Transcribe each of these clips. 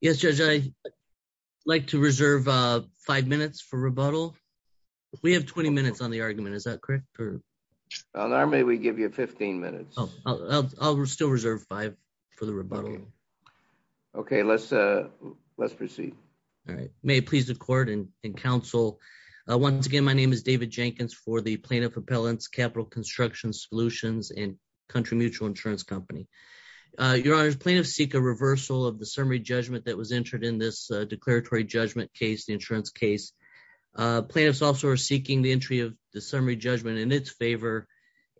Yes, Judge, I'd like to reserve five minutes for rebuttal. We have 20 minutes on the argument, is that correct? Normally we give you 15 minutes. I'll still reserve five for the rebuttal. Okay, let's proceed. All right. May it please the Court and Council, once again, my name is David Jenkins for the Plaintiff Appellants Capital Construction Solutions and Country Mutual Insurance Company. Your Honors, plaintiffs seek a reversal of the summary judgment that was entered in this declaratory judgment case, the insurance case. Plaintiffs also are seeking the entry of the summary judgment in its favor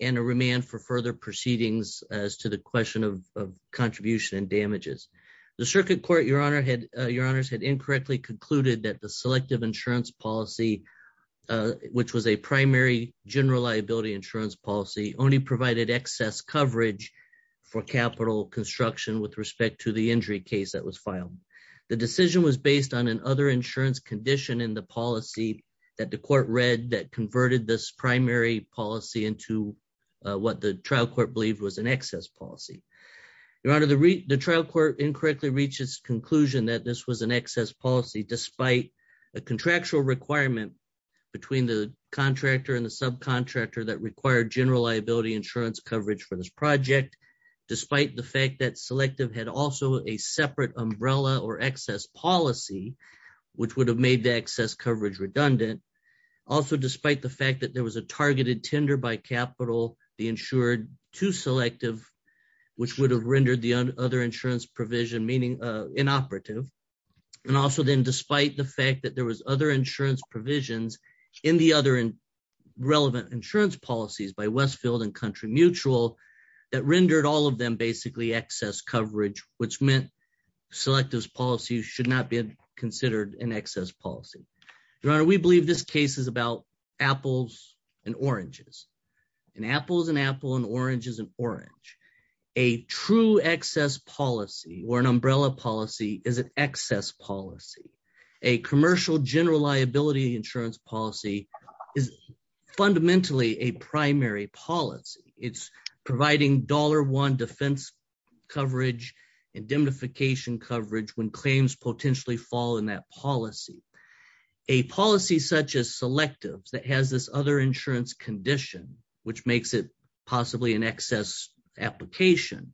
and a remand for further proceedings as to the question of contribution and damages. The Circuit Court, Your Honors, had incorrectly concluded that the selective insurance policy, which was a primary general liability insurance policy, only provided excess coverage for capital construction with respect to the injury case that was filed. The decision was based on another insurance condition in the policy that the Court read that converted this primary policy into what the trial court believed was an excess policy. Your Honor, the trial court incorrectly reached its conclusion that this was an excess policy, despite a contractual requirement between the contractor and the subcontractor that required general liability insurance coverage for this project, despite the fact that selective had also a separate umbrella or excess policy, which would have made the excess coverage redundant. Also, despite the fact that there was a targeted tender by capital, the insured to selective, which would have rendered the other insurance provision meaning inoperative. And also then, despite the fact that there was other insurance provisions in the other relevant insurance policies by Westfield and Country Mutual that rendered all of them basically excess coverage, which meant selectives policy should not be considered an excess policy. Your Honor, we believe this case is about apples and oranges. An apple is an apple, an orange is an orange. A true excess policy or an umbrella policy is an excess policy. A commercial general liability insurance policy is fundamentally a primary policy. It's providing dollar one defense coverage and indemnification coverage when claims potentially fall in that policy. A policy such as selectives that has this other insurance condition, which makes it possibly an excess application,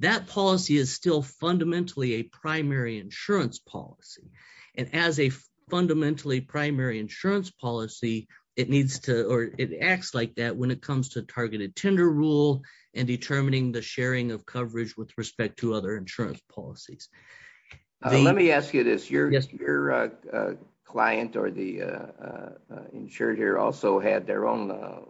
that policy is still fundamentally a primary insurance policy. And as a fundamentally primary insurance policy, it needs to or it acts like that when it comes to targeted tender rule and determining the sharing of coverage with respect to other insurance policies. Let me ask you this. Your client or the insured here also had their own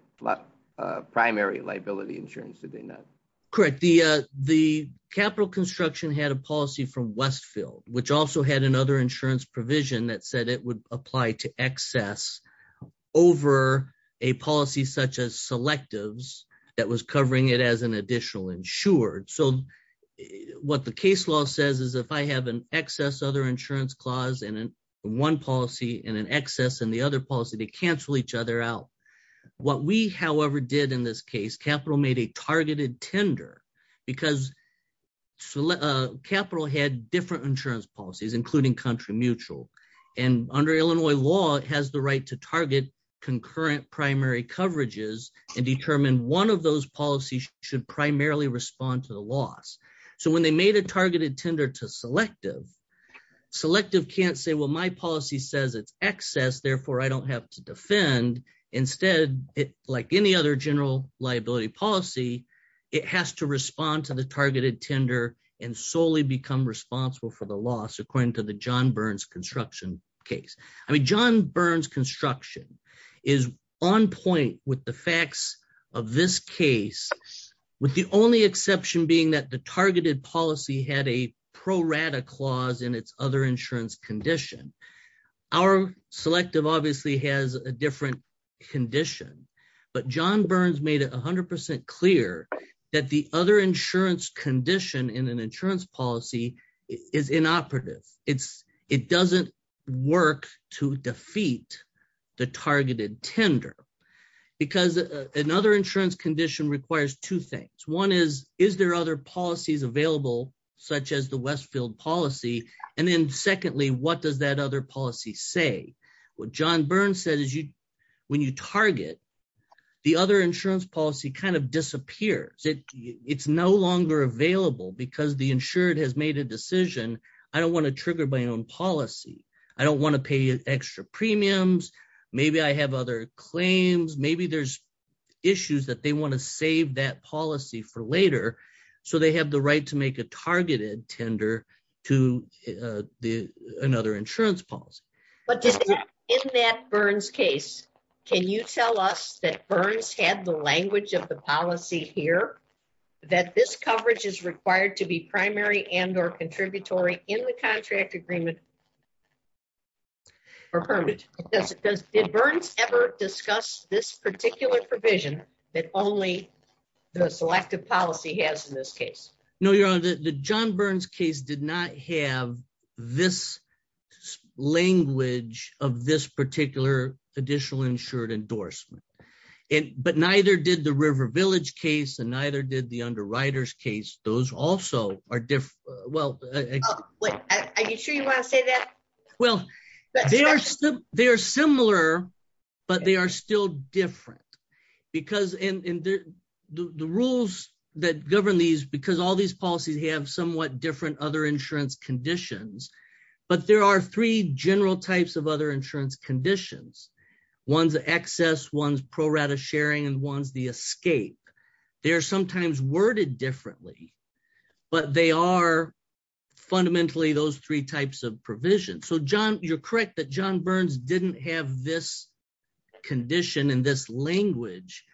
primary liability insurance, did they not? Correct. The capital construction had a policy from Westfield, which also had another insurance provision that said it would apply to excess over a policy such as selectives that was covering it as an additional insured. So what the case law says is if I have an excess other insurance clause in one policy and an excess in the other policy, they cancel each other out. What we, however, did in this case, capital made a targeted tender because capital had different insurance policies, including country mutual. And under Illinois law, it has the right to target concurrent primary coverages and determine one of those policies should primarily respond to the loss. So when they made a targeted tender to selective, selective can't say, well, my policy says it's excess, therefore I don't have to defend. Instead, like any other liability policy, it has to respond to the targeted tender and solely become responsible for the loss, according to the John Burns construction case. I mean, John Burns construction is on point with the facts of this case, with the only exception being that the targeted policy had a pro rata clause in its other insurance condition. Our selective obviously has a different condition, but John Burns made it 100% clear that the other insurance condition in an insurance policy is inoperative. It doesn't work to defeat the targeted tender because another insurance condition requires two things. One is, is there other policies available, such as the Westfield policy? And then secondly, what does that other policy say? What John Burns said is when you target, the other insurance policy kind of disappears. It's no longer available because the insured has made a decision. I don't want to trigger my own policy. I don't want to pay extra premiums. Maybe I have other claims. Maybe there's issues that they want to save that policy for later. So they have the right to make a targeted tender to another insurance policy. But in that Burns case, can you tell us that Burns had the language of the policy here that this coverage is required to be primary and or contributory in the contract agreement or permanent? Did Burns ever discuss this particular provision that only the selective of this particular additional insured endorsement, but neither did the river village case and neither did the underwriters case. Those also are different. Well, are you sure you want to say that? Well, they are similar, but they are still different because in the rules that govern these, because all these policies have somewhat different other insurance conditions, but there are three general types of other insurance conditions. One's the excess, one's pro-rata sharing and one's the escape. They're sometimes worded differently, but they are fundamentally those three types of provisions. So John, you're correct that John Burns didn't have this condition in this language.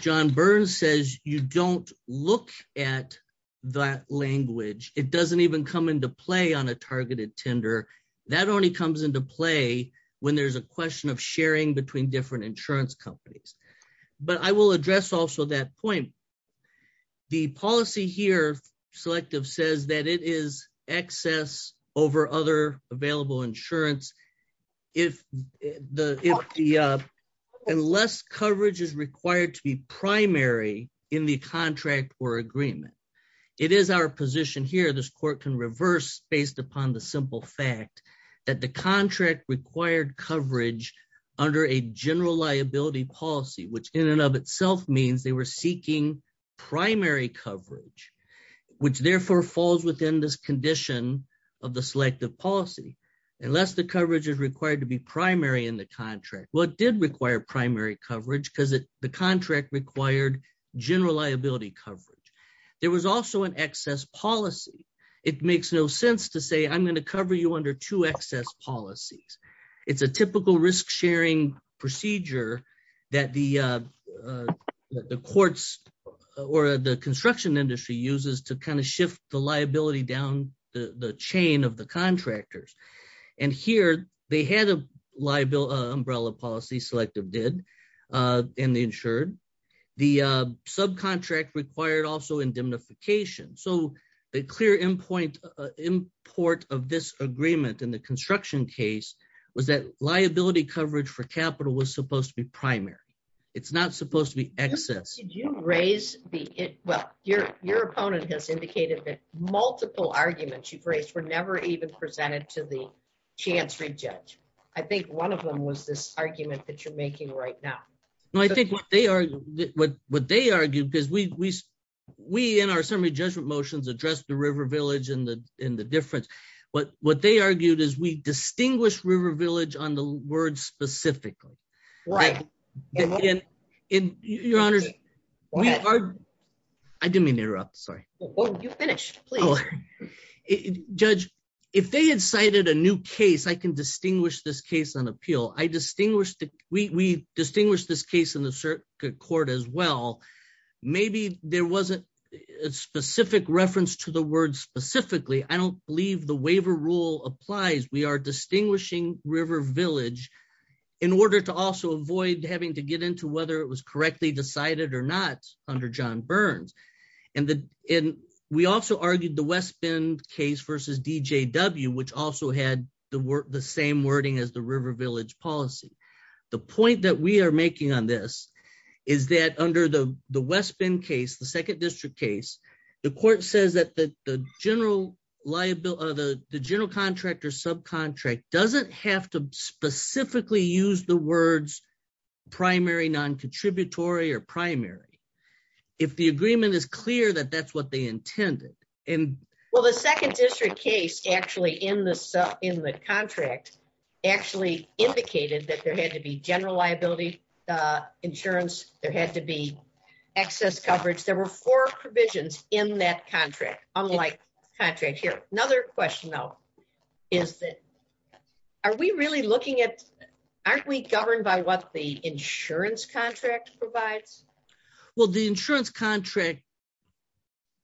John Burns says, you don't look at that language. It doesn't even come into play on a targeted tender. That only comes into play when there's a question of sharing between different insurance companies. But I will address also that point. The policy here selective says that it is excess over other available insurance. Unless coverage is required to be primary in the contract or agreement. It is our position here. This court can reverse based upon the simple fact that the contract required coverage under a general liability policy, which in and of itself means they were seeking primary coverage, which therefore falls within this condition of the selective policy. Unless the coverage is required to be primary in the contract. Well, it did require primary coverage because the contract required general liability coverage. There was also an excess policy. It makes no sense to say I'm going to cover you under two excess policies. It's a typical risk sharing procedure that the courts or the construction industry uses to kind of shift the liability down the chain of the contractors. And here they had a liability umbrella policy selective did in the insured. The subcontract required also indemnification. So the clear import of this agreement in the construction case was that liability coverage for capital was supposed to be primary. It's not supposed to be excess. Did you raise the, well, your opponent has indicated that multiple arguments you've I think one of them was this argument that you're making right now. No, I think what they are, what they argue, because we, we, we, in our summary judgment motions address the river village in the, in the difference. What, what they argued is we distinguish river village on the word specifically. Right. In your honor, I didn't mean to interrupt. Sorry. You finished judge. If they had cited a new case, I can distinguish this case on appeal. I distinguished, we distinguish this case in the circuit court as well. Maybe there wasn't a specific reference to the word specifically. I don't believe the waiver rule applies. We are distinguishing river village in order to also avoid having to get into whether it was correctly decided or not under John Burns. And the, and we also argued the West Bend case versus DJW, which also had the word, the same wording as the river village policy. The point that we are making on this is that under the West Bend case, the second district case, the court says that the, the general liability, the general contractor subcontract doesn't have to specifically use the words primary non-contributory or primary. If the agreement is clear that that's what they intended. Well, the second district case actually in the sub, in the contract actually indicated that there had to be general liability insurance. There had to be access coverage. There were four provisions in that contract, unlike contract here. Another question though is that are we really looking at, aren't we governed by what the insurance contract provides? Well, the insurance contract,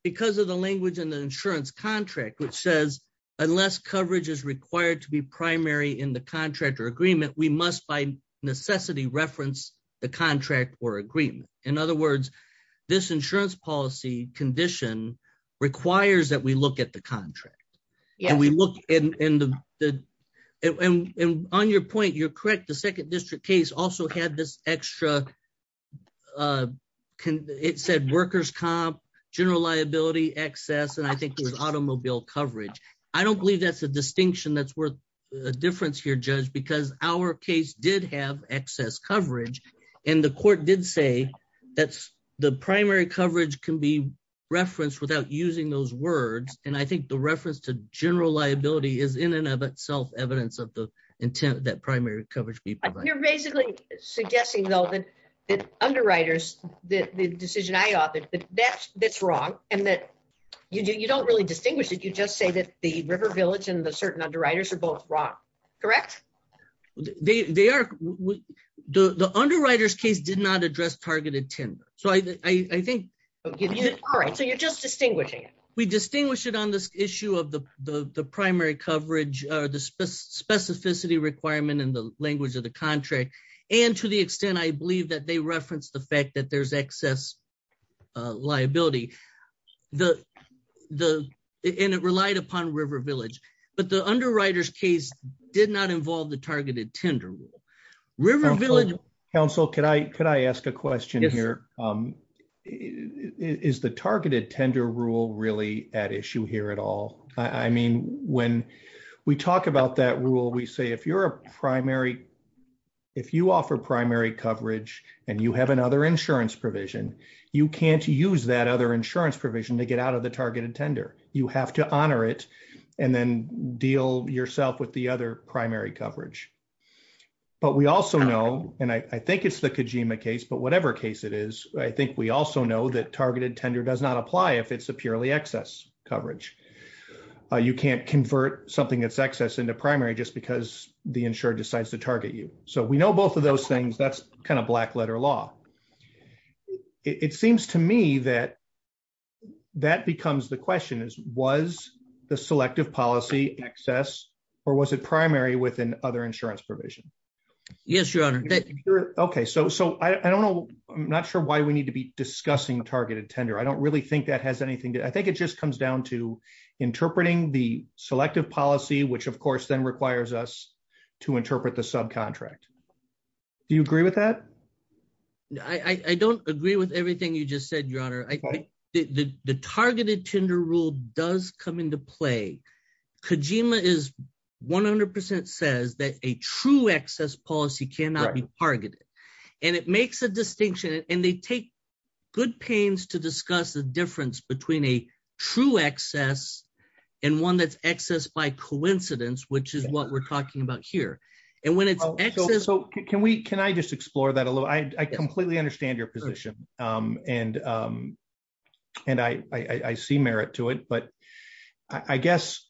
because of the language in the insurance contract, which says unless coverage is required to be primary in the contractor agreement, we must by necessity reference the contract or agreement. In other words, this insurance policy condition requires that we look at the contract and we look in the, and on your point, you're correct. The second district case also had this extra, it said workers comp, general liability, excess, and I think it was automobile coverage. I don't believe that's a distinction that's worth a difference here, judge, because our case did have excess coverage and the court did say that the primary coverage can be referenced without using those words, and I think the reference to general liability is in and of itself evidence of the intent that primary coverage be provided. You're basically suggesting though that underwriters, the decision I authored, that that's wrong and that you don't really distinguish it. You just say that the River Village and the certain underwriters are both wrong, correct? They are. The underwriters case did not address targeted tender, so I think all right, so you're just distinguishing it. We distinguish it on this issue of the primary coverage or the specificity requirement in the language of the contract, and to the extent I believe that they reference the fact that there's excess liability, and it relied upon River Village, but the underwriters case did not involve the targeted tender rule. River Village. Counsel, could I ask a question here? Is the targeted tender rule really at issue here at all? I mean, when we talk about that rule, we say if you're a primary, if you offer primary coverage and you have another insurance provision, you can't use that other and then deal yourself with the other primary coverage, but we also know, and I think it's the Kojima case, but whatever case it is, I think we also know that targeted tender does not apply if it's a purely excess coverage. You can't convert something that's excess into primary just because the insurer decides to target you, so we know both of those things. That's a black letter law. It seems to me that that becomes the question is, was the selective policy excess or was it primary with an other insurance provision? Yes, your honor. Okay, so I don't know. I'm not sure why we need to be discussing targeted tender. I don't really think that has anything to... I think it just comes down to interpreting the selective policy, which of course then requires us to interpret the subcontract. Do you agree with that? I don't agree with everything you just said, your honor. The targeted tender rule does come into play. Kojima is 100% says that a true excess policy cannot be targeted, and it makes a distinction, and they take good pains to discuss the difference between a true excess and one that's excess by coincidence, which is what we're talking about here. Can I just explore that a little? I completely understand your position, and I see merit to it, but I guess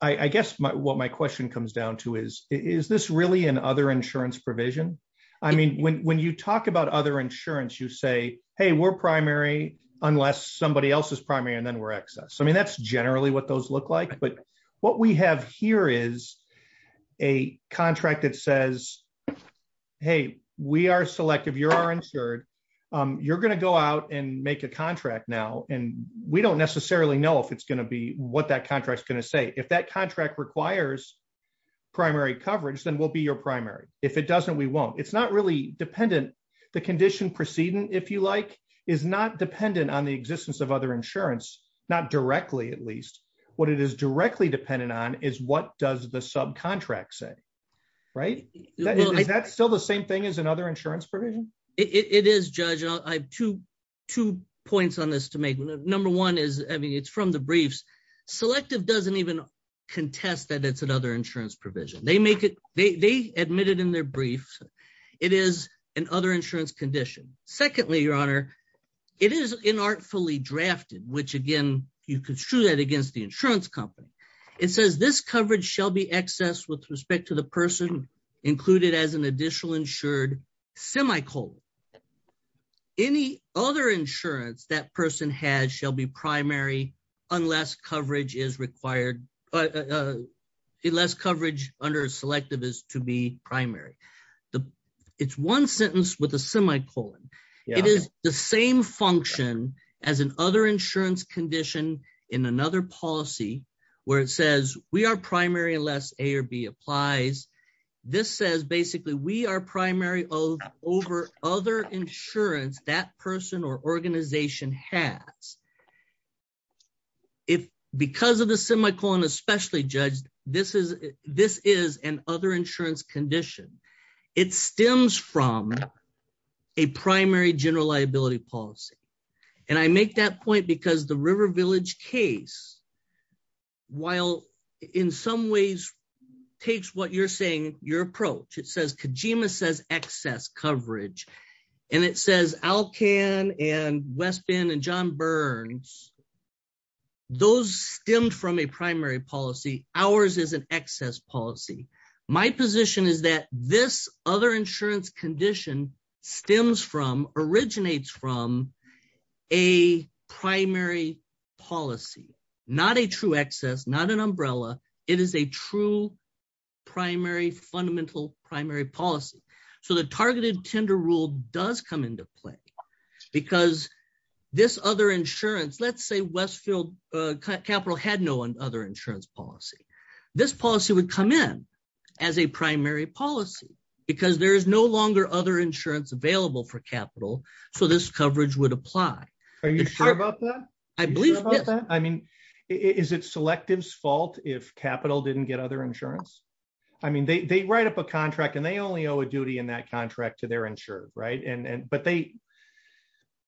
what my question comes down to is, is this really an other insurance provision? When you talk about other insurance, you say, hey, we're primary unless somebody else is primary, and then we're excess. That's generally what those look like, but what we have here is a contract that says, hey, we are selective. You are insured. You're going to go out and make a contract now, and we don't necessarily know if it's going to be what that contract is going to say. If that contract requires primary coverage, then we'll be your primary. If it doesn't, we won't. It's not really dependent. The condition proceeding, if you like, is not dependent on the existence of other insurance, not directly at least. What it is directly dependent on is what does the subcontract say. Is that still the same thing as another insurance provision? It is, Judge. I have two points on this to make. Number one is, it's from the briefs. Selective doesn't even contest that it's another insurance provision. They admit it in their brief. It is an other insurance condition. Secondly, Your Honor, it is inartfully drafted, which again, you construe that against the insurance company. It says, this coverage shall be excess with respect to the person included as an additional insured semicolon. Any other insurance that person has shall be primary unless coverage is required, unless coverage under selective is to be primary. It's one sentence with a semicolon. It is the same function as an other insurance condition in another policy where it says, we are primary unless A or B applies. This says, basically, we are primary over other insurance that person or organization has. Because of the semicolon, especially, Judge, this is an other insurance condition. It stems from a primary general liability policy. I make that point because the River Village case, while in some ways takes what you're saying, your approach. It says, Kajima says excess coverage. It says, Alcan and West Bend and John Burns, those stemmed from a primary policy. Ours is an excess policy. My position is that this other insurance condition stems from, originates from a primary policy, not a true excess, not an umbrella. It is a true primary, fundamental primary policy. The targeted tender rule does come into play. Because this other insurance, let's say Westfield Capital had no other insurance policy. This policy would come in as a primary policy because there is no longer other insurance available for capital, so this coverage would apply. Are you sure about that? I believe, yes. I mean, is it Selective's fault if Capital didn't get other insurance? I mean, they write up a contract and they only owe a duty in that contract to their insurer, right? But they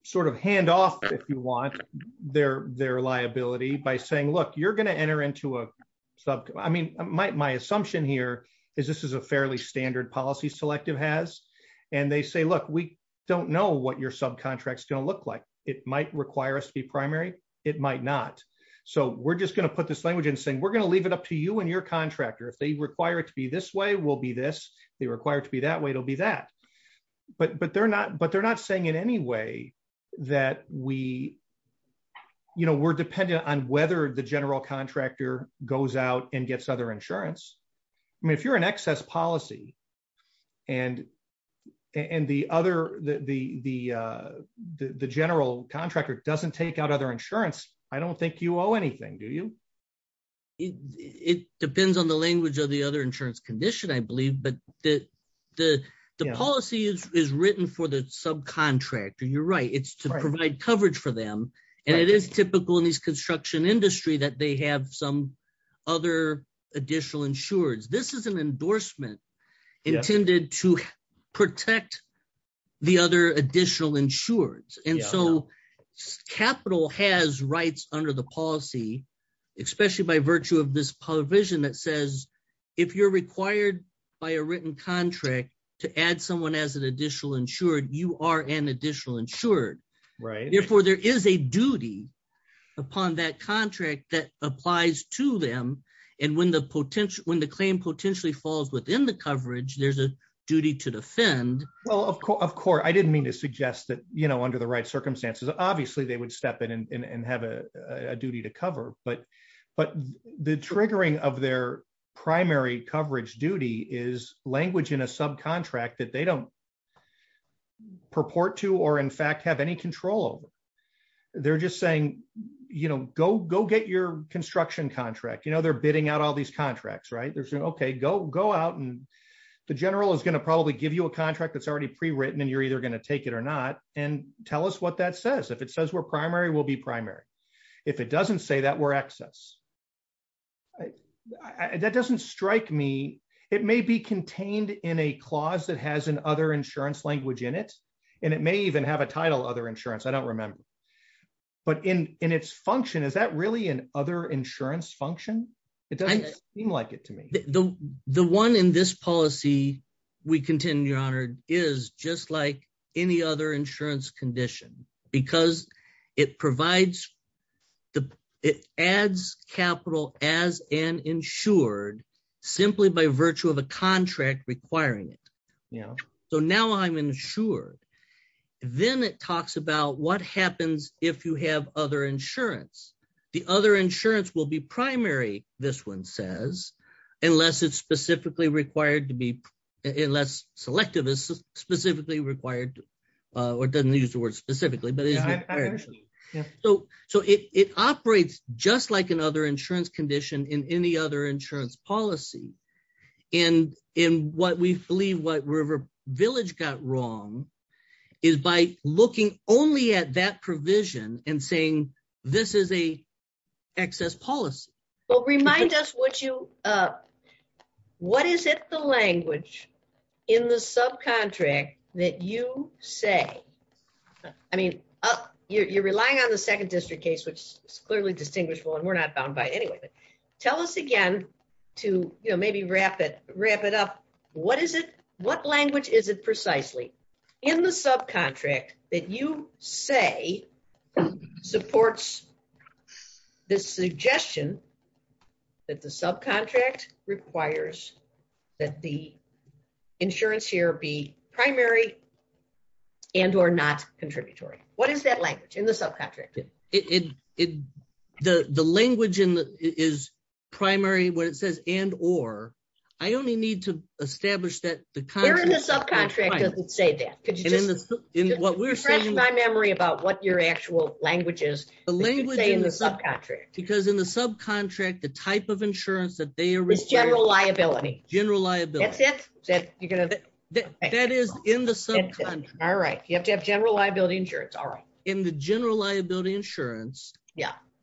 sort of hand off, if you want, their liability by saying, look, you're going to enter into a subcontract. I mean, my assumption here is this is a fairly standard policy Selective has. And they say, look, we don't know what your subcontract is going to look like. It might require us to be primary. It might not. So we're just going to put this language in saying, we're required to be this way, we'll be this. They require it to be that way, it'll be that. But they're not saying in any way that we're dependent on whether the general contractor goes out and gets other insurance. I mean, if you're an excess policy and the general contractor doesn't take out other insurance, I don't think you owe anything, do you? It depends on the language of the other insurance condition, I believe, but the policy is written for the subcontractor, you're right, it's to provide coverage for them. And it is typical in these construction industry that they have some other additional insurers. This is an endorsement intended to protect the other additional insurers. And so Capital has rights under the policy especially by virtue of this provision that says, if you're required by a written contract to add someone as an additional insured, you are an additional insured. Therefore, there is a duty upon that contract that applies to them. And when the claim potentially falls within the coverage, there's a duty to defend. Well, of course, I didn't mean to suggest that under the right but the triggering of their primary coverage duty is language in a subcontract that they don't purport to or in fact, have any control over. They're just saying, go get your construction contract. They're bidding out all these contracts, right? They're saying, okay, go out and the general is going to probably give you a contract that's already pre-written and you're either going to take it or not and tell us what that says. If it says we're primary, we'll be primary insurance. That doesn't strike me. It may be contained in a clause that has an other insurance language in it. And it may even have a title other insurance, I don't remember. But in its function, is that really an other insurance function? It doesn't seem like it to me. The one in this policy, we contend, your honor, is just like any other insurance condition because it adds capital as an insured simply by virtue of a contract requiring it. So now I'm insured. Then it talks about what happens if you have other insurance. The other insurance will be primary, this one says, unless it's specifically required to be, unless selective is specifically required or doesn't use the word specifically. So it operates just like another insurance condition in any other insurance policy. And in what we believe what River Village got wrong is by looking only at that provision and in the subcontract that you say, I mean, you're relying on the second district case, which is clearly distinguishable and we're not bound by anyway, but tell us again, to maybe wrap it up. What language is it precisely in the subcontract that you say supports the suggestion that the subcontract requires that the insurance here be primary and or not contributory? What is that language in the subcontract? The language is primary when it says and or, I only need to establish that the contract- Where in the subcontract does it say that? Could you just refresh my memory about what your actual language is? The language in the subcontract. Because in the subcontract, the type of insurance that they are- Is general liability. General liability. That's it. That is in the subcontract. All right. You have to have general liability insurance. All right. In the general liability insurance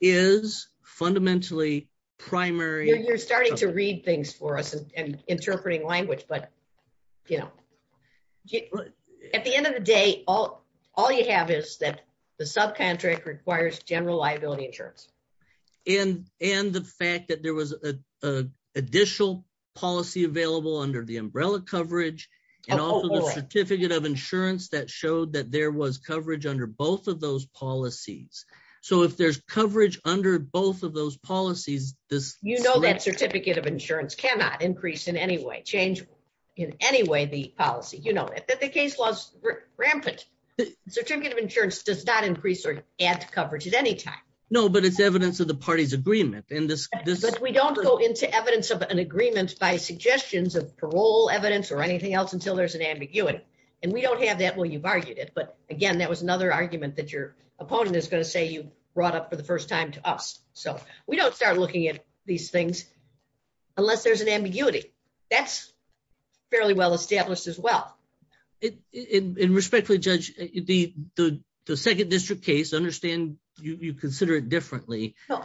is fundamentally primary- You're starting to read things for us and interpreting language, but at the end of the day, all you have is that the subcontract requires general liability insurance. And the fact that there was an additional policy available under the umbrella coverage and also the certificate of insurance that showed that there was coverage under both of those policies. So if there's coverage under both of those policies, this- You know that certificate of insurance cannot increase in any way, change in any way the certificate of insurance does not increase or add to coverage at any time. No, but it's evidence of the party's agreement and this- But we don't go into evidence of an agreement by suggestions of parole evidence or anything else until there's an ambiguity. And we don't have that when you've argued it. But again, that was another argument that your opponent is going to say you brought up for the first time to us. So we don't start looking at these things unless there's an ambiguity. That's fairly well-established as well. And respectfully, Judge, the second district case, understand you consider it differently. I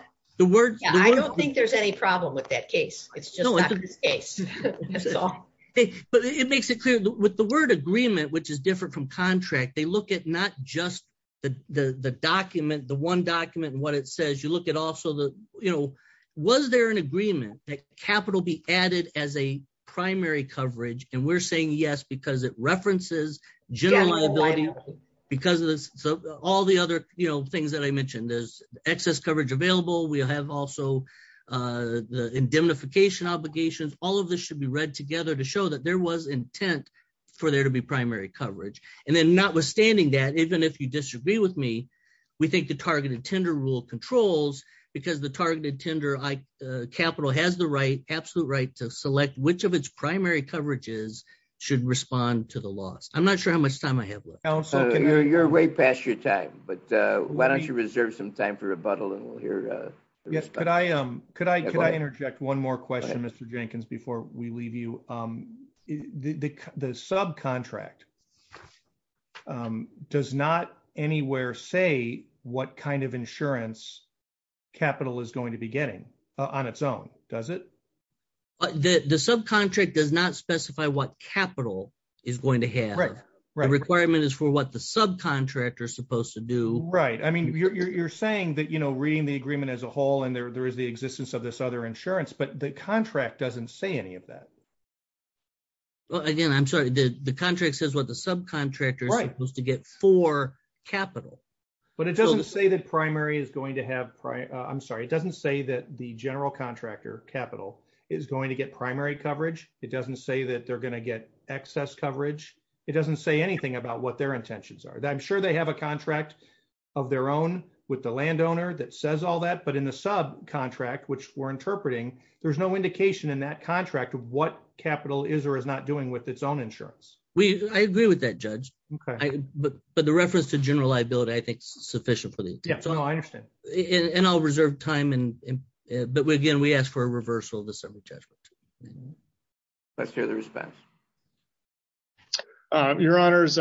don't think there's any problem with that case. It's just not this case. That's all. But it makes it clear with the word agreement, which is different from contract, they look at not just the document, the one document and what it says. You look at also the, was there an agreement that capital be added as a primary coverage? And we're saying yes, because it references general liability because of this. So all the other things that I mentioned, there's excess coverage available. We have also indemnification obligations. All of this should be read together to show that there was intent for there to be primary coverage. And then not withstanding that, even if you disagree with me, we think the targeted tender rule controls because the targeted tender capital has the right, absolute right to select which of its primary coverages should respond to the loss. I'm not sure how much time I have left. You're way past your time, but why don't you reserve some time for rebuttal and we'll hear. Yes, could I interject one more question, Mr. Jenkins, before we leave you. The subcontract does not anywhere say what kind of insurance capital is going to be getting on its own, does it? The subcontract does not specify what capital is going to have. The requirement is for what the subcontractor is supposed to do. Right. I mean, you're saying that reading the agreement as a whole and there is the existence of this other insurance, but the contract doesn't say of that. Well, again, I'm sorry, the contract says what the subcontractor is supposed to get for capital. But it doesn't say that primary is going to have. I'm sorry. It doesn't say that the general contractor capital is going to get primary coverage. It doesn't say that they're going to get excess coverage. It doesn't say anything about what their intentions are. I'm sure they have a contract of their own with the landowner that says all that. But in the sub which we're interpreting, there's no indication in that contract of what capital is or is not doing with its own insurance. I agree with that, Judge. But the reference to general liability, I think, is sufficient. I understand. And I'll reserve time. But again, we ask for a reversal of the summary judgment. Let's hear the response. Your Honors,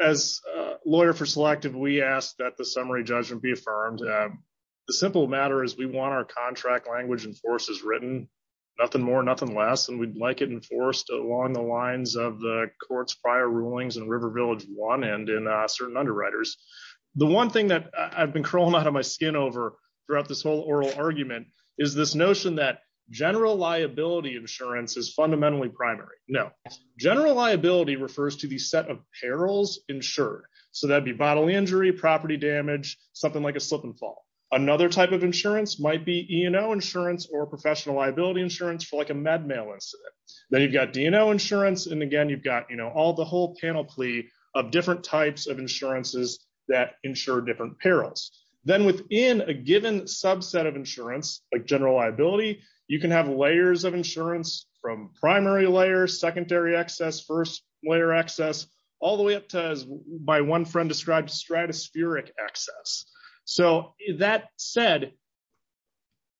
as a lawyer for selective, we ask that the summary judgment be affirmed. The simple matter is we want our contract language and forces written. Nothing more, nothing less. And we'd like it enforced along the lines of the court's prior rulings in River Village one and in certain underwriters. The one thing that I've been crawling out of my skin over throughout this whole oral argument is this notion that general liability insurance is fundamentally primary. No, general liability refers to the set of perils insured. So that'd be bodily injury, property damage, something like a slip and fall. Another type of insurance might be E&O insurance or professional liability insurance for like a med male. Then you've got D&O insurance. And again, you've got all the whole panoply of different types of insurances that ensure different perils. Then within a given subset of insurance, like general liability, you can have layers of insurance from primary layer, secondary access, first layer access, all the way up to, as my one friend described, stratospheric access. So that said,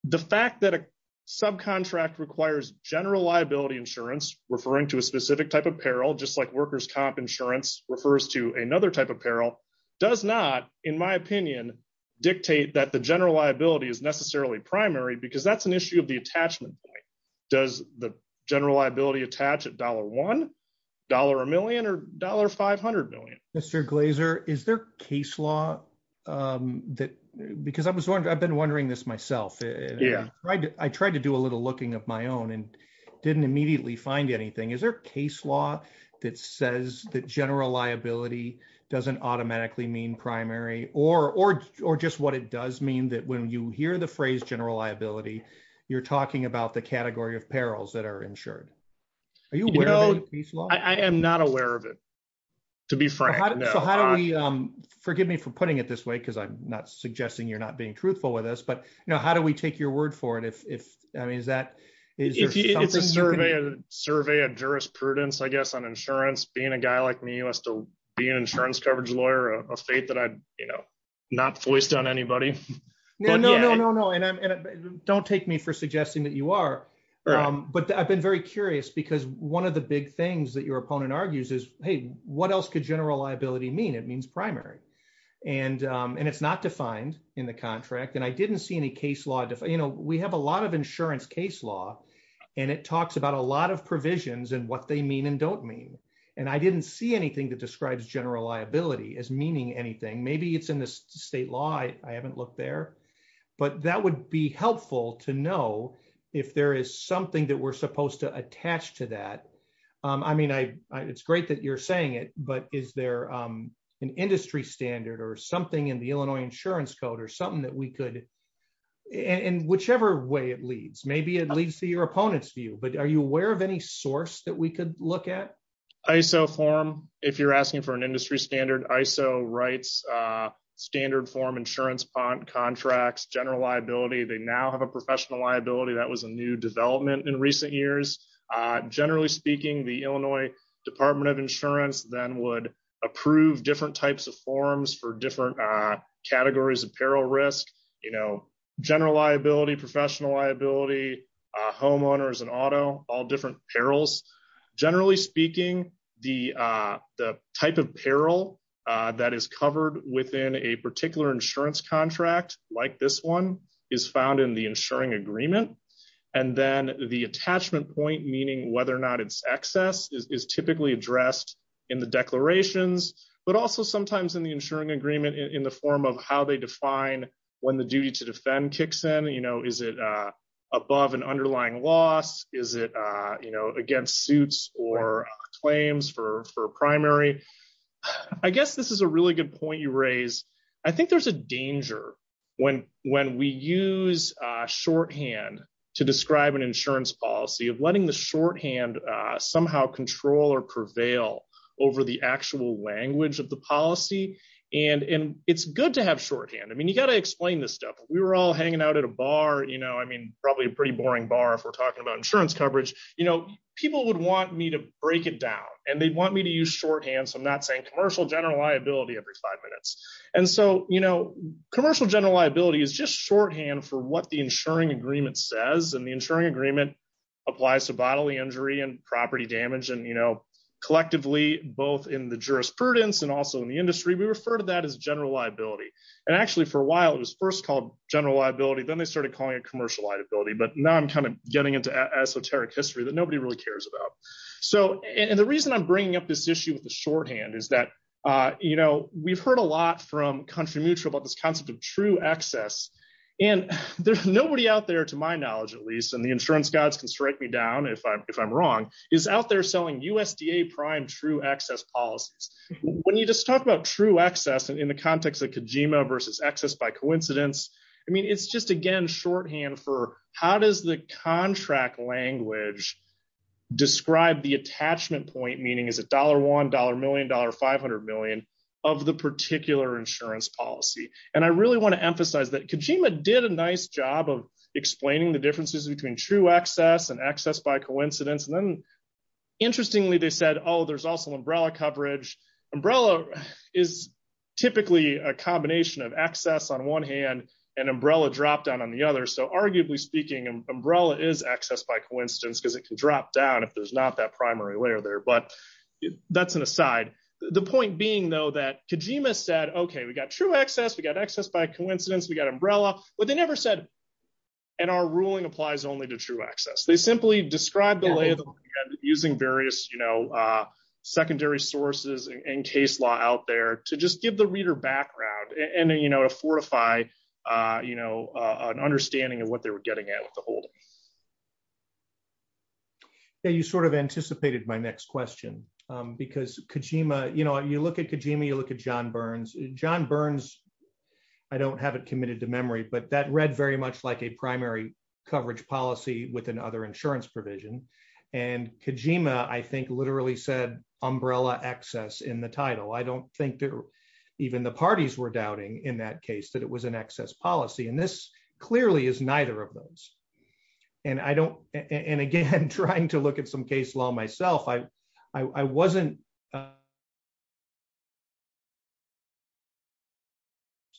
the fact that a subcontract requires general liability insurance, referring to a specific type of peril, just like worker's comp insurance refers to another type of peril, does not, in my opinion, dictate that the general liability is necessarily primary because that's an issue of the attachment point. Does the general liability attach at dollar one, dollar a million, or dollar 500 million? Mr. Glazer, is there case law that, because I've been wondering this myself. I tried to do a little looking of my own and didn't immediately find anything. Is there a case law that says that general liability doesn't automatically mean you're talking about the category of perils that are insured? I am not aware of it, to be frank. So how do we, forgive me for putting it this way, because I'm not suggesting you're not being truthful with us, but how do we take your word for it? If, I mean, is that- It's a survey of jurisprudence, I guess, on insurance. Being a guy like me who has to be an insurance coverage lawyer, a fate that I'd not voiced on anybody. No, no, no, no, no. And don't take me for suggesting that you are. But I've been very curious because one of the big things that your opponent argues is, hey, what else could general liability mean? It means primary. And it's not defined in the contract. And I didn't see any case law. We have a lot of insurance case law, and it talks about a lot of provisions and what they mean and don't mean. And I didn't see anything that describes general liability as meaning anything. Maybe it's in the state law. I haven't looked there, but that would be helpful to know if there is something that we're supposed to attach to that. I mean, it's great that you're saying it, but is there an industry standard or something in the Illinois insurance code or something that we could, in whichever way it leads, maybe it leads to your opponent's view, but are you aware of any source that we could look at? ISO form. If you're asking for an industry standard, ISO rights, standard form insurance contracts, general liability, they now have a professional liability. That was a new development in recent years. Generally speaking, the Illinois Department of Insurance then would approve different types of forms for different categories of peril risk, general liability, professional liability, homeowners and auto, all different perils. Generally speaking, the type of peril that is covered within a particular insurance contract like this one is found in the insuring agreement. And then the attachment point, meaning whether or not it's excess is typically addressed in the declarations, but also sometimes in the insuring agreement in the form of how they above an underlying loss, is it against suits or claims for primary? I guess this is a really good point you raise. I think there's a danger when we use shorthand to describe an insurance policy of letting the shorthand somehow control or prevail over the actual language of the policy. And it's good to have shorthand. I mean, you got to explain this stuff. We were all hanging out at a bar. You know, I mean, probably a pretty boring bar if we're talking about insurance coverage. You know, people would want me to break it down and they'd want me to use shorthand. So I'm not saying commercial general liability every five minutes. And so, you know, commercial general liability is just shorthand for what the insuring agreement says. And the insuring agreement applies to bodily injury and property damage. And, you know, collectively, both in the jurisprudence and also in the industry, we refer to that as general liability. And actually, for a while, it was first called general liability. Then they started calling it commercial liability. But now I'm kind of getting into esoteric history that nobody really cares about. So and the reason I'm bringing up this issue with the shorthand is that, you know, we've heard a lot from Country Mutual about this concept of true access. And there's nobody out there, to my knowledge, at least, and the insurance gods can strike me down if I'm wrong, is out there selling USDA prime true access policies. When you just talk about true access, and in the context of Kojima versus access by coincidence, I mean, it's just, again, shorthand for how does the contract language describe the attachment point meaning is $1 $1 million, $500 million of the particular insurance policy. And I really want to emphasize that Kojima did a nice job of explaining the differences between true access and access by coincidence. And then, interestingly, they said, Oh, there's also umbrella coverage. umbrella is typically a combination of access on one hand, and umbrella drop down on the other. So arguably speaking, umbrella is access by coincidence, because it can drop down if there's not that primary layer there. But that's an aside. The point being, though, that Kojima said, Okay, we got true access, we got access by coincidence, we got umbrella, but they never said, and our ruling applies only to true access, they simply described the label, using various, you know, secondary sources and case law out there to just give the reader background, and you know, a fortify, you know, an understanding of what they were getting at with the whole. Yeah, you sort of anticipated my next question. Because Kojima, you know, you look at Kojima, you look at john burns, john burns, I don't have it committed to memory, but that read very much like a primary coverage policy with another insurance provision. And Kojima, I think, literally said, umbrella access in the title, I don't think that even the parties were doubting in that case that it was an excess policy. And this clearly is neither of those. And I don't, and again, trying to look at some case law myself, I, I wasn't.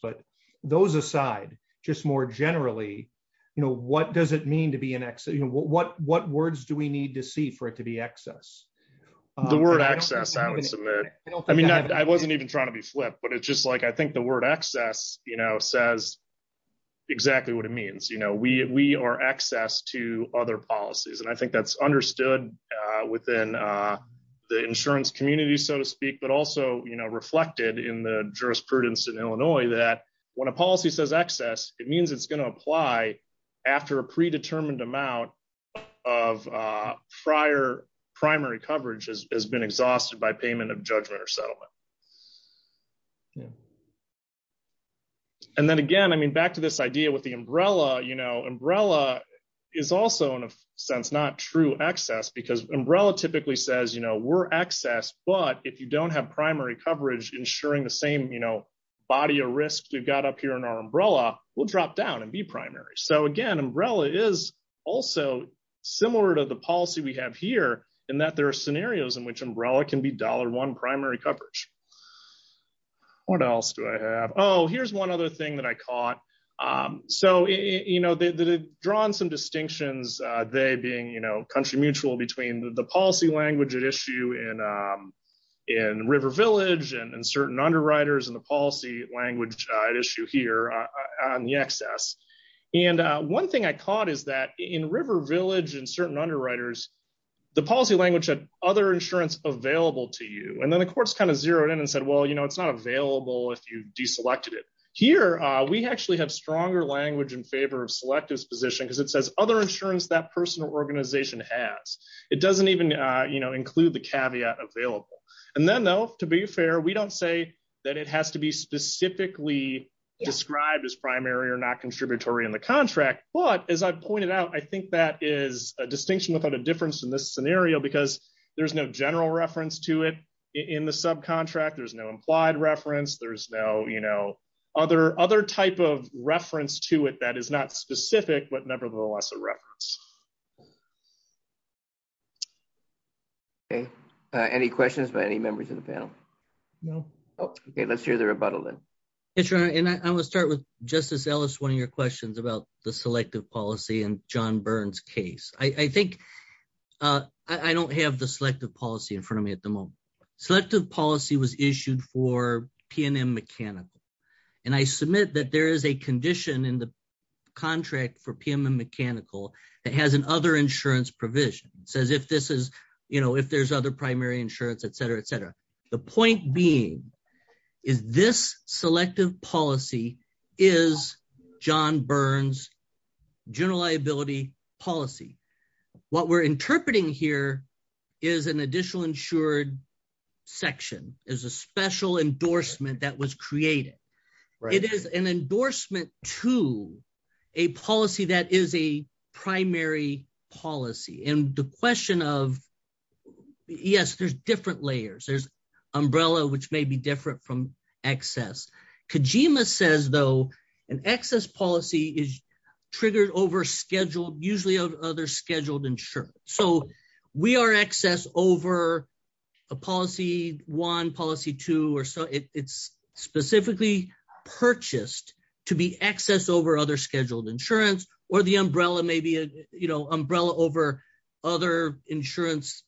But those aside, just more generally, you know, what does it mean to be an exit? You know, what, what words do we need to see for it to be access? The word access, I would submit, I mean, I wasn't even trying to be flip, but it's just like, I think the word access, you know, says exactly what it means, you know, we are access to other policies. And I think that's understood within the insurance community, so to speak, but also, you know, reflected in the jurisprudence in Illinois, that when a policy says access, it means it's going to apply after a predetermined amount of prior primary coverage has been exhausted by payment of judgment or settlement. And then again, I mean, back to this idea with the umbrella, you know, umbrella is also in a true access, because umbrella typically says, you know, we're access, but if you don't have primary coverage, ensuring the same, you know, body of risk, we've got up here in our umbrella, we'll drop down and be primary. So again, umbrella is also similar to the policy we have here, in that there are scenarios in which umbrella can be dollar one primary coverage. What else do I have? Oh, here's one other thing that I caught. So, you know, the drawn some country mutual between the policy language at issue in River Village and certain underwriters and the policy language at issue here on the access. And one thing I caught is that in River Village and certain underwriters, the policy language had other insurance available to you, and then the courts kind of zeroed in and said, well, you know, it's not available if you deselected it. Here, we actually have stronger language in favor of selectives position because it says other insurance that personal organization has, it doesn't even, you know, include the caveat available. And then though, to be fair, we don't say that it has to be specifically described as primary or not contributory in the contract. But as I pointed out, I think that is a distinction without a difference in this scenario, because there's no general reference to it. In the subcontract, there's no implied reference, there's no, you know, other other type of reference to it that is not specific, but nevertheless, a reference. Okay, any questions by any members of the panel? No. Okay, let's hear the rebuttal then. It's your and I will start with Justice Ellis, one of your questions about the selective policy and john burns case, I think I don't have the selective policy in front of me at the moment. Selective policy was issued for PNM mechanical. And I submit that there is a condition in the contract for PM and mechanical that has an other insurance provision says if this is, you know, if there's other primary insurance, etc, etc. The point being, is this selective policy is john burns, general liability policy. What we're interpreting here is an additional insured section is a special endorsement that was created, right, it is an endorsement to a policy that is a primary policy. And the question of, yes, there's different layers, there's umbrella, which may be different from excess. Kojima says, though, an excess policy is triggered over usually other scheduled insurance. So we are excess over a policy one policy two or so it's specifically purchased to be excess over other scheduled insurance, or the umbrella, maybe, you know, umbrella over other insurance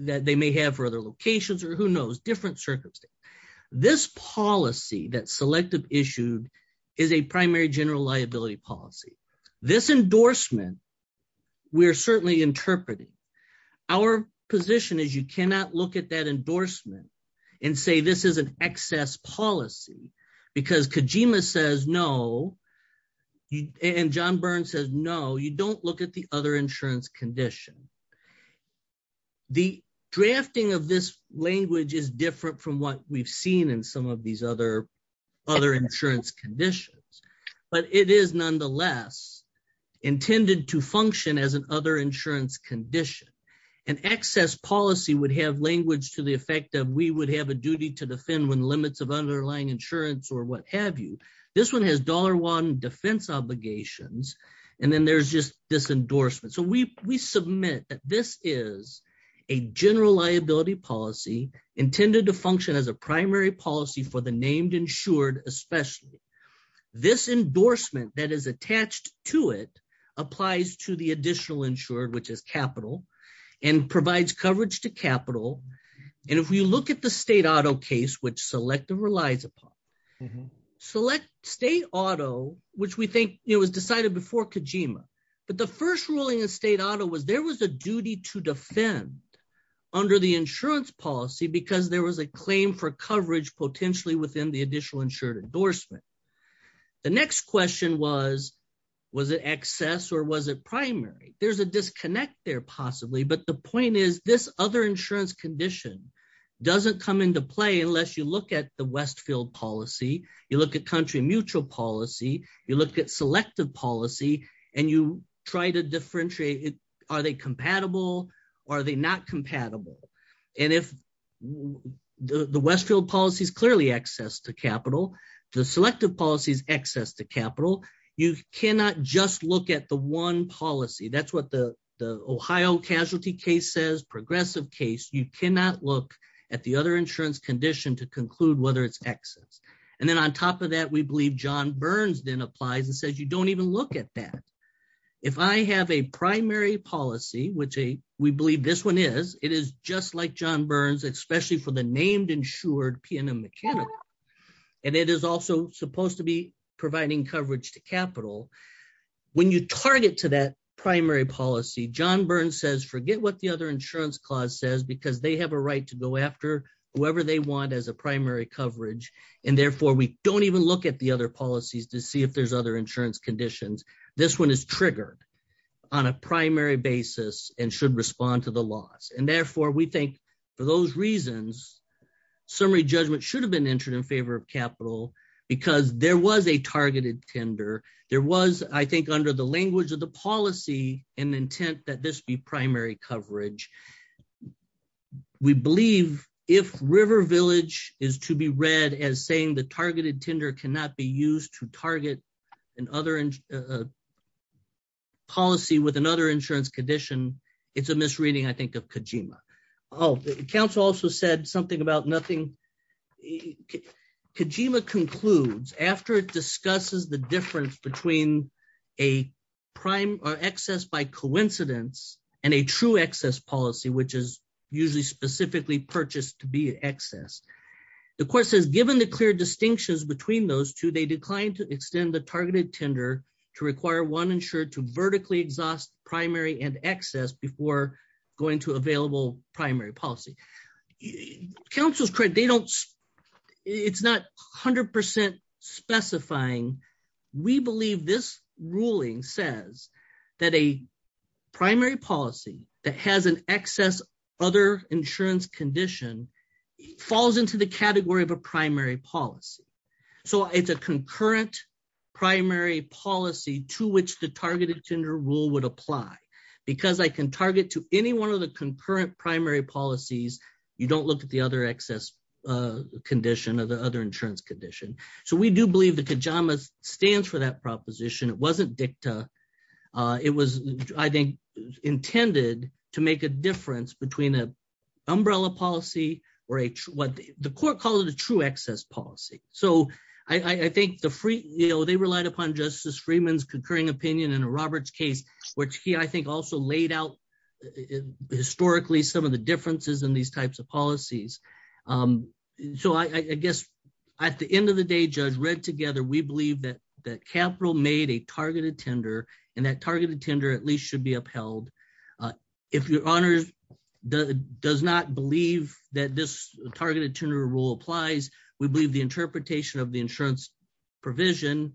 that they may have for other locations, or who knows different circumstances. This policy that selective issued is a primary general liability policy. This endorsement, we're certainly interpreting our position is you cannot look at that endorsement and say this is an excess policy. Because Kojima says no. And john burns says no, you don't look at the other insurance condition. The drafting of this language is different from we've seen in some of these other other insurance conditions. But it is nonetheless intended to function as an other insurance condition. And excess policy would have language to the effect that we would have a duty to defend when limits of underlying insurance or what have you. This one has dollar one defense obligations. And then there's just this endorsement. So we primary policy for the named insured, especially this endorsement that is attached to it applies to the additional insured, which is capital, and provides coverage to capital. And if we look at the state auto case, which selective relies upon select state auto, which we think it was decided before Kojima, but the first ruling of state auto was there was a policy because there was a claim for coverage potentially within the additional insured endorsement. The next question was, was it excess or was it primary, there's a disconnect there, possibly. But the point is, this other insurance condition doesn't come into play. Unless you look at the Westfield policy, you look at country mutual policy, you look at selective policy, and you try to differentiate it. Are they compatible? Are they not compatible? And if the Westfield policies clearly access to capital, the selective policies access to capital, you cannot just look at the one policy. That's what the Ohio casualty case says progressive case, you cannot look at the other insurance condition to conclude whether it's excess. And then on top of that, we believe john burns then applies and says you don't even look at that. If I have a primary policy, which a we believe this one is, it is just like john burns, especially for the named insured PNM mechanic. And it is also supposed to be providing coverage to capital. When you target to that primary policy, john burns says forget what the other insurance clause says, because they have a right to go after whoever they want as a primary coverage. And therefore, we don't even look at the other policies to see if there's other insurance conditions, this one is triggered on a primary basis and should respond to the laws. And therefore, we think for those reasons, summary judgment should have been entered in favor of capital, because there was a targeted tender, there was, I think, under the language of the policy, and the intent that this be primary coverage. We believe if River Village is to be read as saying the targeted tender cannot be used to target and other policy with another insurance condition. It's a misreading, I think of Kojima. Oh, the council also said something about nothing. Kojima concludes after it discusses the difference between a prime or excess by coincidence, and a true excess policy, which is usually specifically purchased to be accessed. The course has given the clear distinctions between those two, they declined to extend the targeted tender to require one insured to vertically exhaust primary and excess before going to available primary policy. Council's credit, they don't, it's not 100% specifying, we believe this ruling says that a primary policy that has an excess other insurance condition, falls into the category of a primary policy. So it's a concurrent primary policy to which the targeted tender rule would apply. Because I can target to any one of the concurrent primary policies, you don't look at the other excess condition of the other insurance condition. So we do believe that Kojima stands for that proposition, it wasn't dicta. It was, I think, intended to make a difference between a umbrella policy, or a what the court calls the true excess policy. So I think the free, you know, they relied upon Justice Freeman's concurring opinion in a Roberts case, which he I think, also laid out, historically, some of the differences in these types of policies. So I guess, at the end of the day, Judge read together, we believe that that capital made a targeted tender, and that targeted tender at least should be upheld. If your honors does not believe that this targeted tender rule applies, we believe the interpretation of the insurance provision,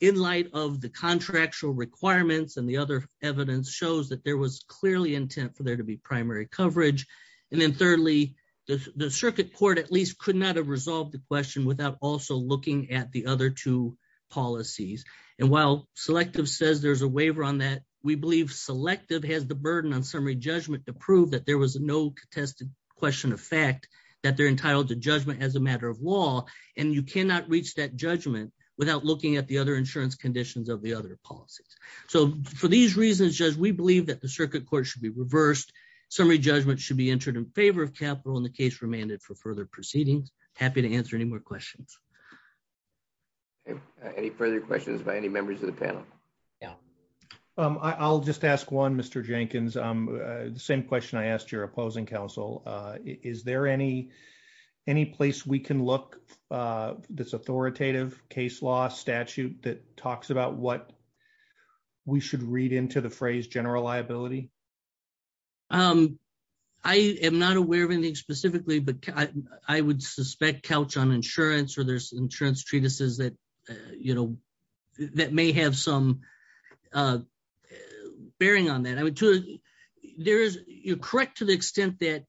in light of the contractual requirements, and the other evidence shows that there was clearly intent for there to be primary coverage. And then thirdly, the circuit court at least could not have resolved the question without also looking at the other two policies. And while selective says there's a waiver on that, we believe selective has the burden on summary judgment to prove that there was no contested question of fact, that they're entitled to judgment as a matter of law. And you cannot reach that judgment without looking at the other insurance conditions of the other policies. So for these reasons, Judge, we believe that the circuit court should be reversed. Summary judgment should be entered in favor of capital in the case remanded for further proceedings. Happy to answer any more questions. Any further questions by any members of the panel? Yeah. I'll just ask one, Mr. Jenkins. The same question I asked your opposing counsel. Is there any place we can look, this authoritative case law statute that talks about what we should read into the phrase general liability? I am not aware of anything specifically, but I would suspect couch on insurance or there's insurance treatises that may have some bearing on that. You're correct to the extent that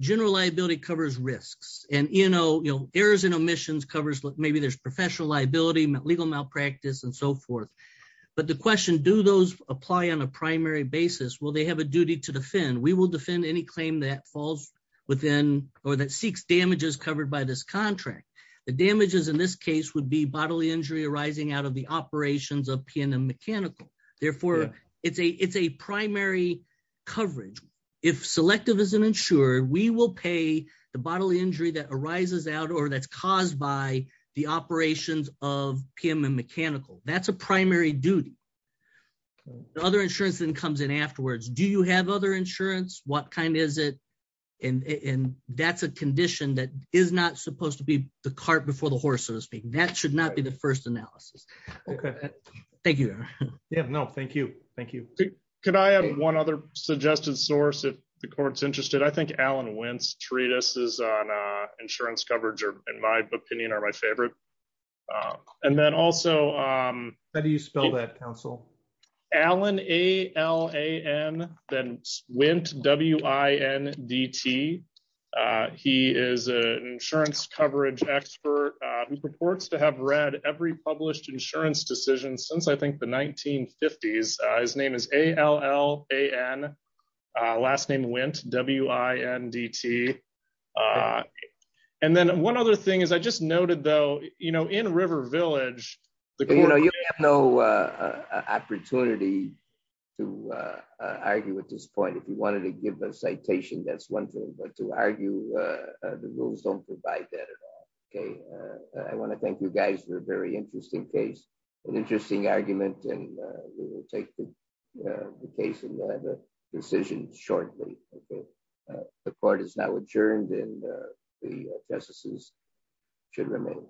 general liability covers risks. And errors and omissions covers, maybe there's professional liability, legal malpractice and so forth. But the question, do those apply on a primary basis? Will they have a duty to defend? We will defend any claim that falls within or that seeks damages covered by this contract. The damages in this case would be bodily injury arising out of the operations of PNM Mechanical. Therefore, it's a primary coverage. If selective isn't insured, we will pay the bodily injury that arises out or that's caused by the operations of PNM Mechanical. That's a primary duty. The other insurance then comes in afterwards. Do you have other insurance? What kind is it? And that's a condition that is not supposed to be the cart before the horse, so to speak. That should not be the first analysis. Okay. Thank you. No, thank you. Thank you. Can I have one other suggested source if the court's interested? I think Alan Wentz treatises on insurance coverage, in my opinion, are my favorite. And then also... How do you spell that, counsel? Alan, A-L-A-N, then Wentz, W-I-N-D-T. He is an insurance coverage expert who purports to have read every published insurance decision since, I think, the 1950s. His name is A-L-L-A-N, last name Wentz, W-I-N-D-T. And then one other thing is I just noted, though, in River Village... You have no opportunity to argue with this point. If you wanted to give a citation, that's one thing, but to argue, the rules don't provide that at all. Okay. I want to thank you guys for a very interesting case, an interesting argument, and we will take the case and we'll decision shortly. Okay. The court is now adjourned and the justices should remain.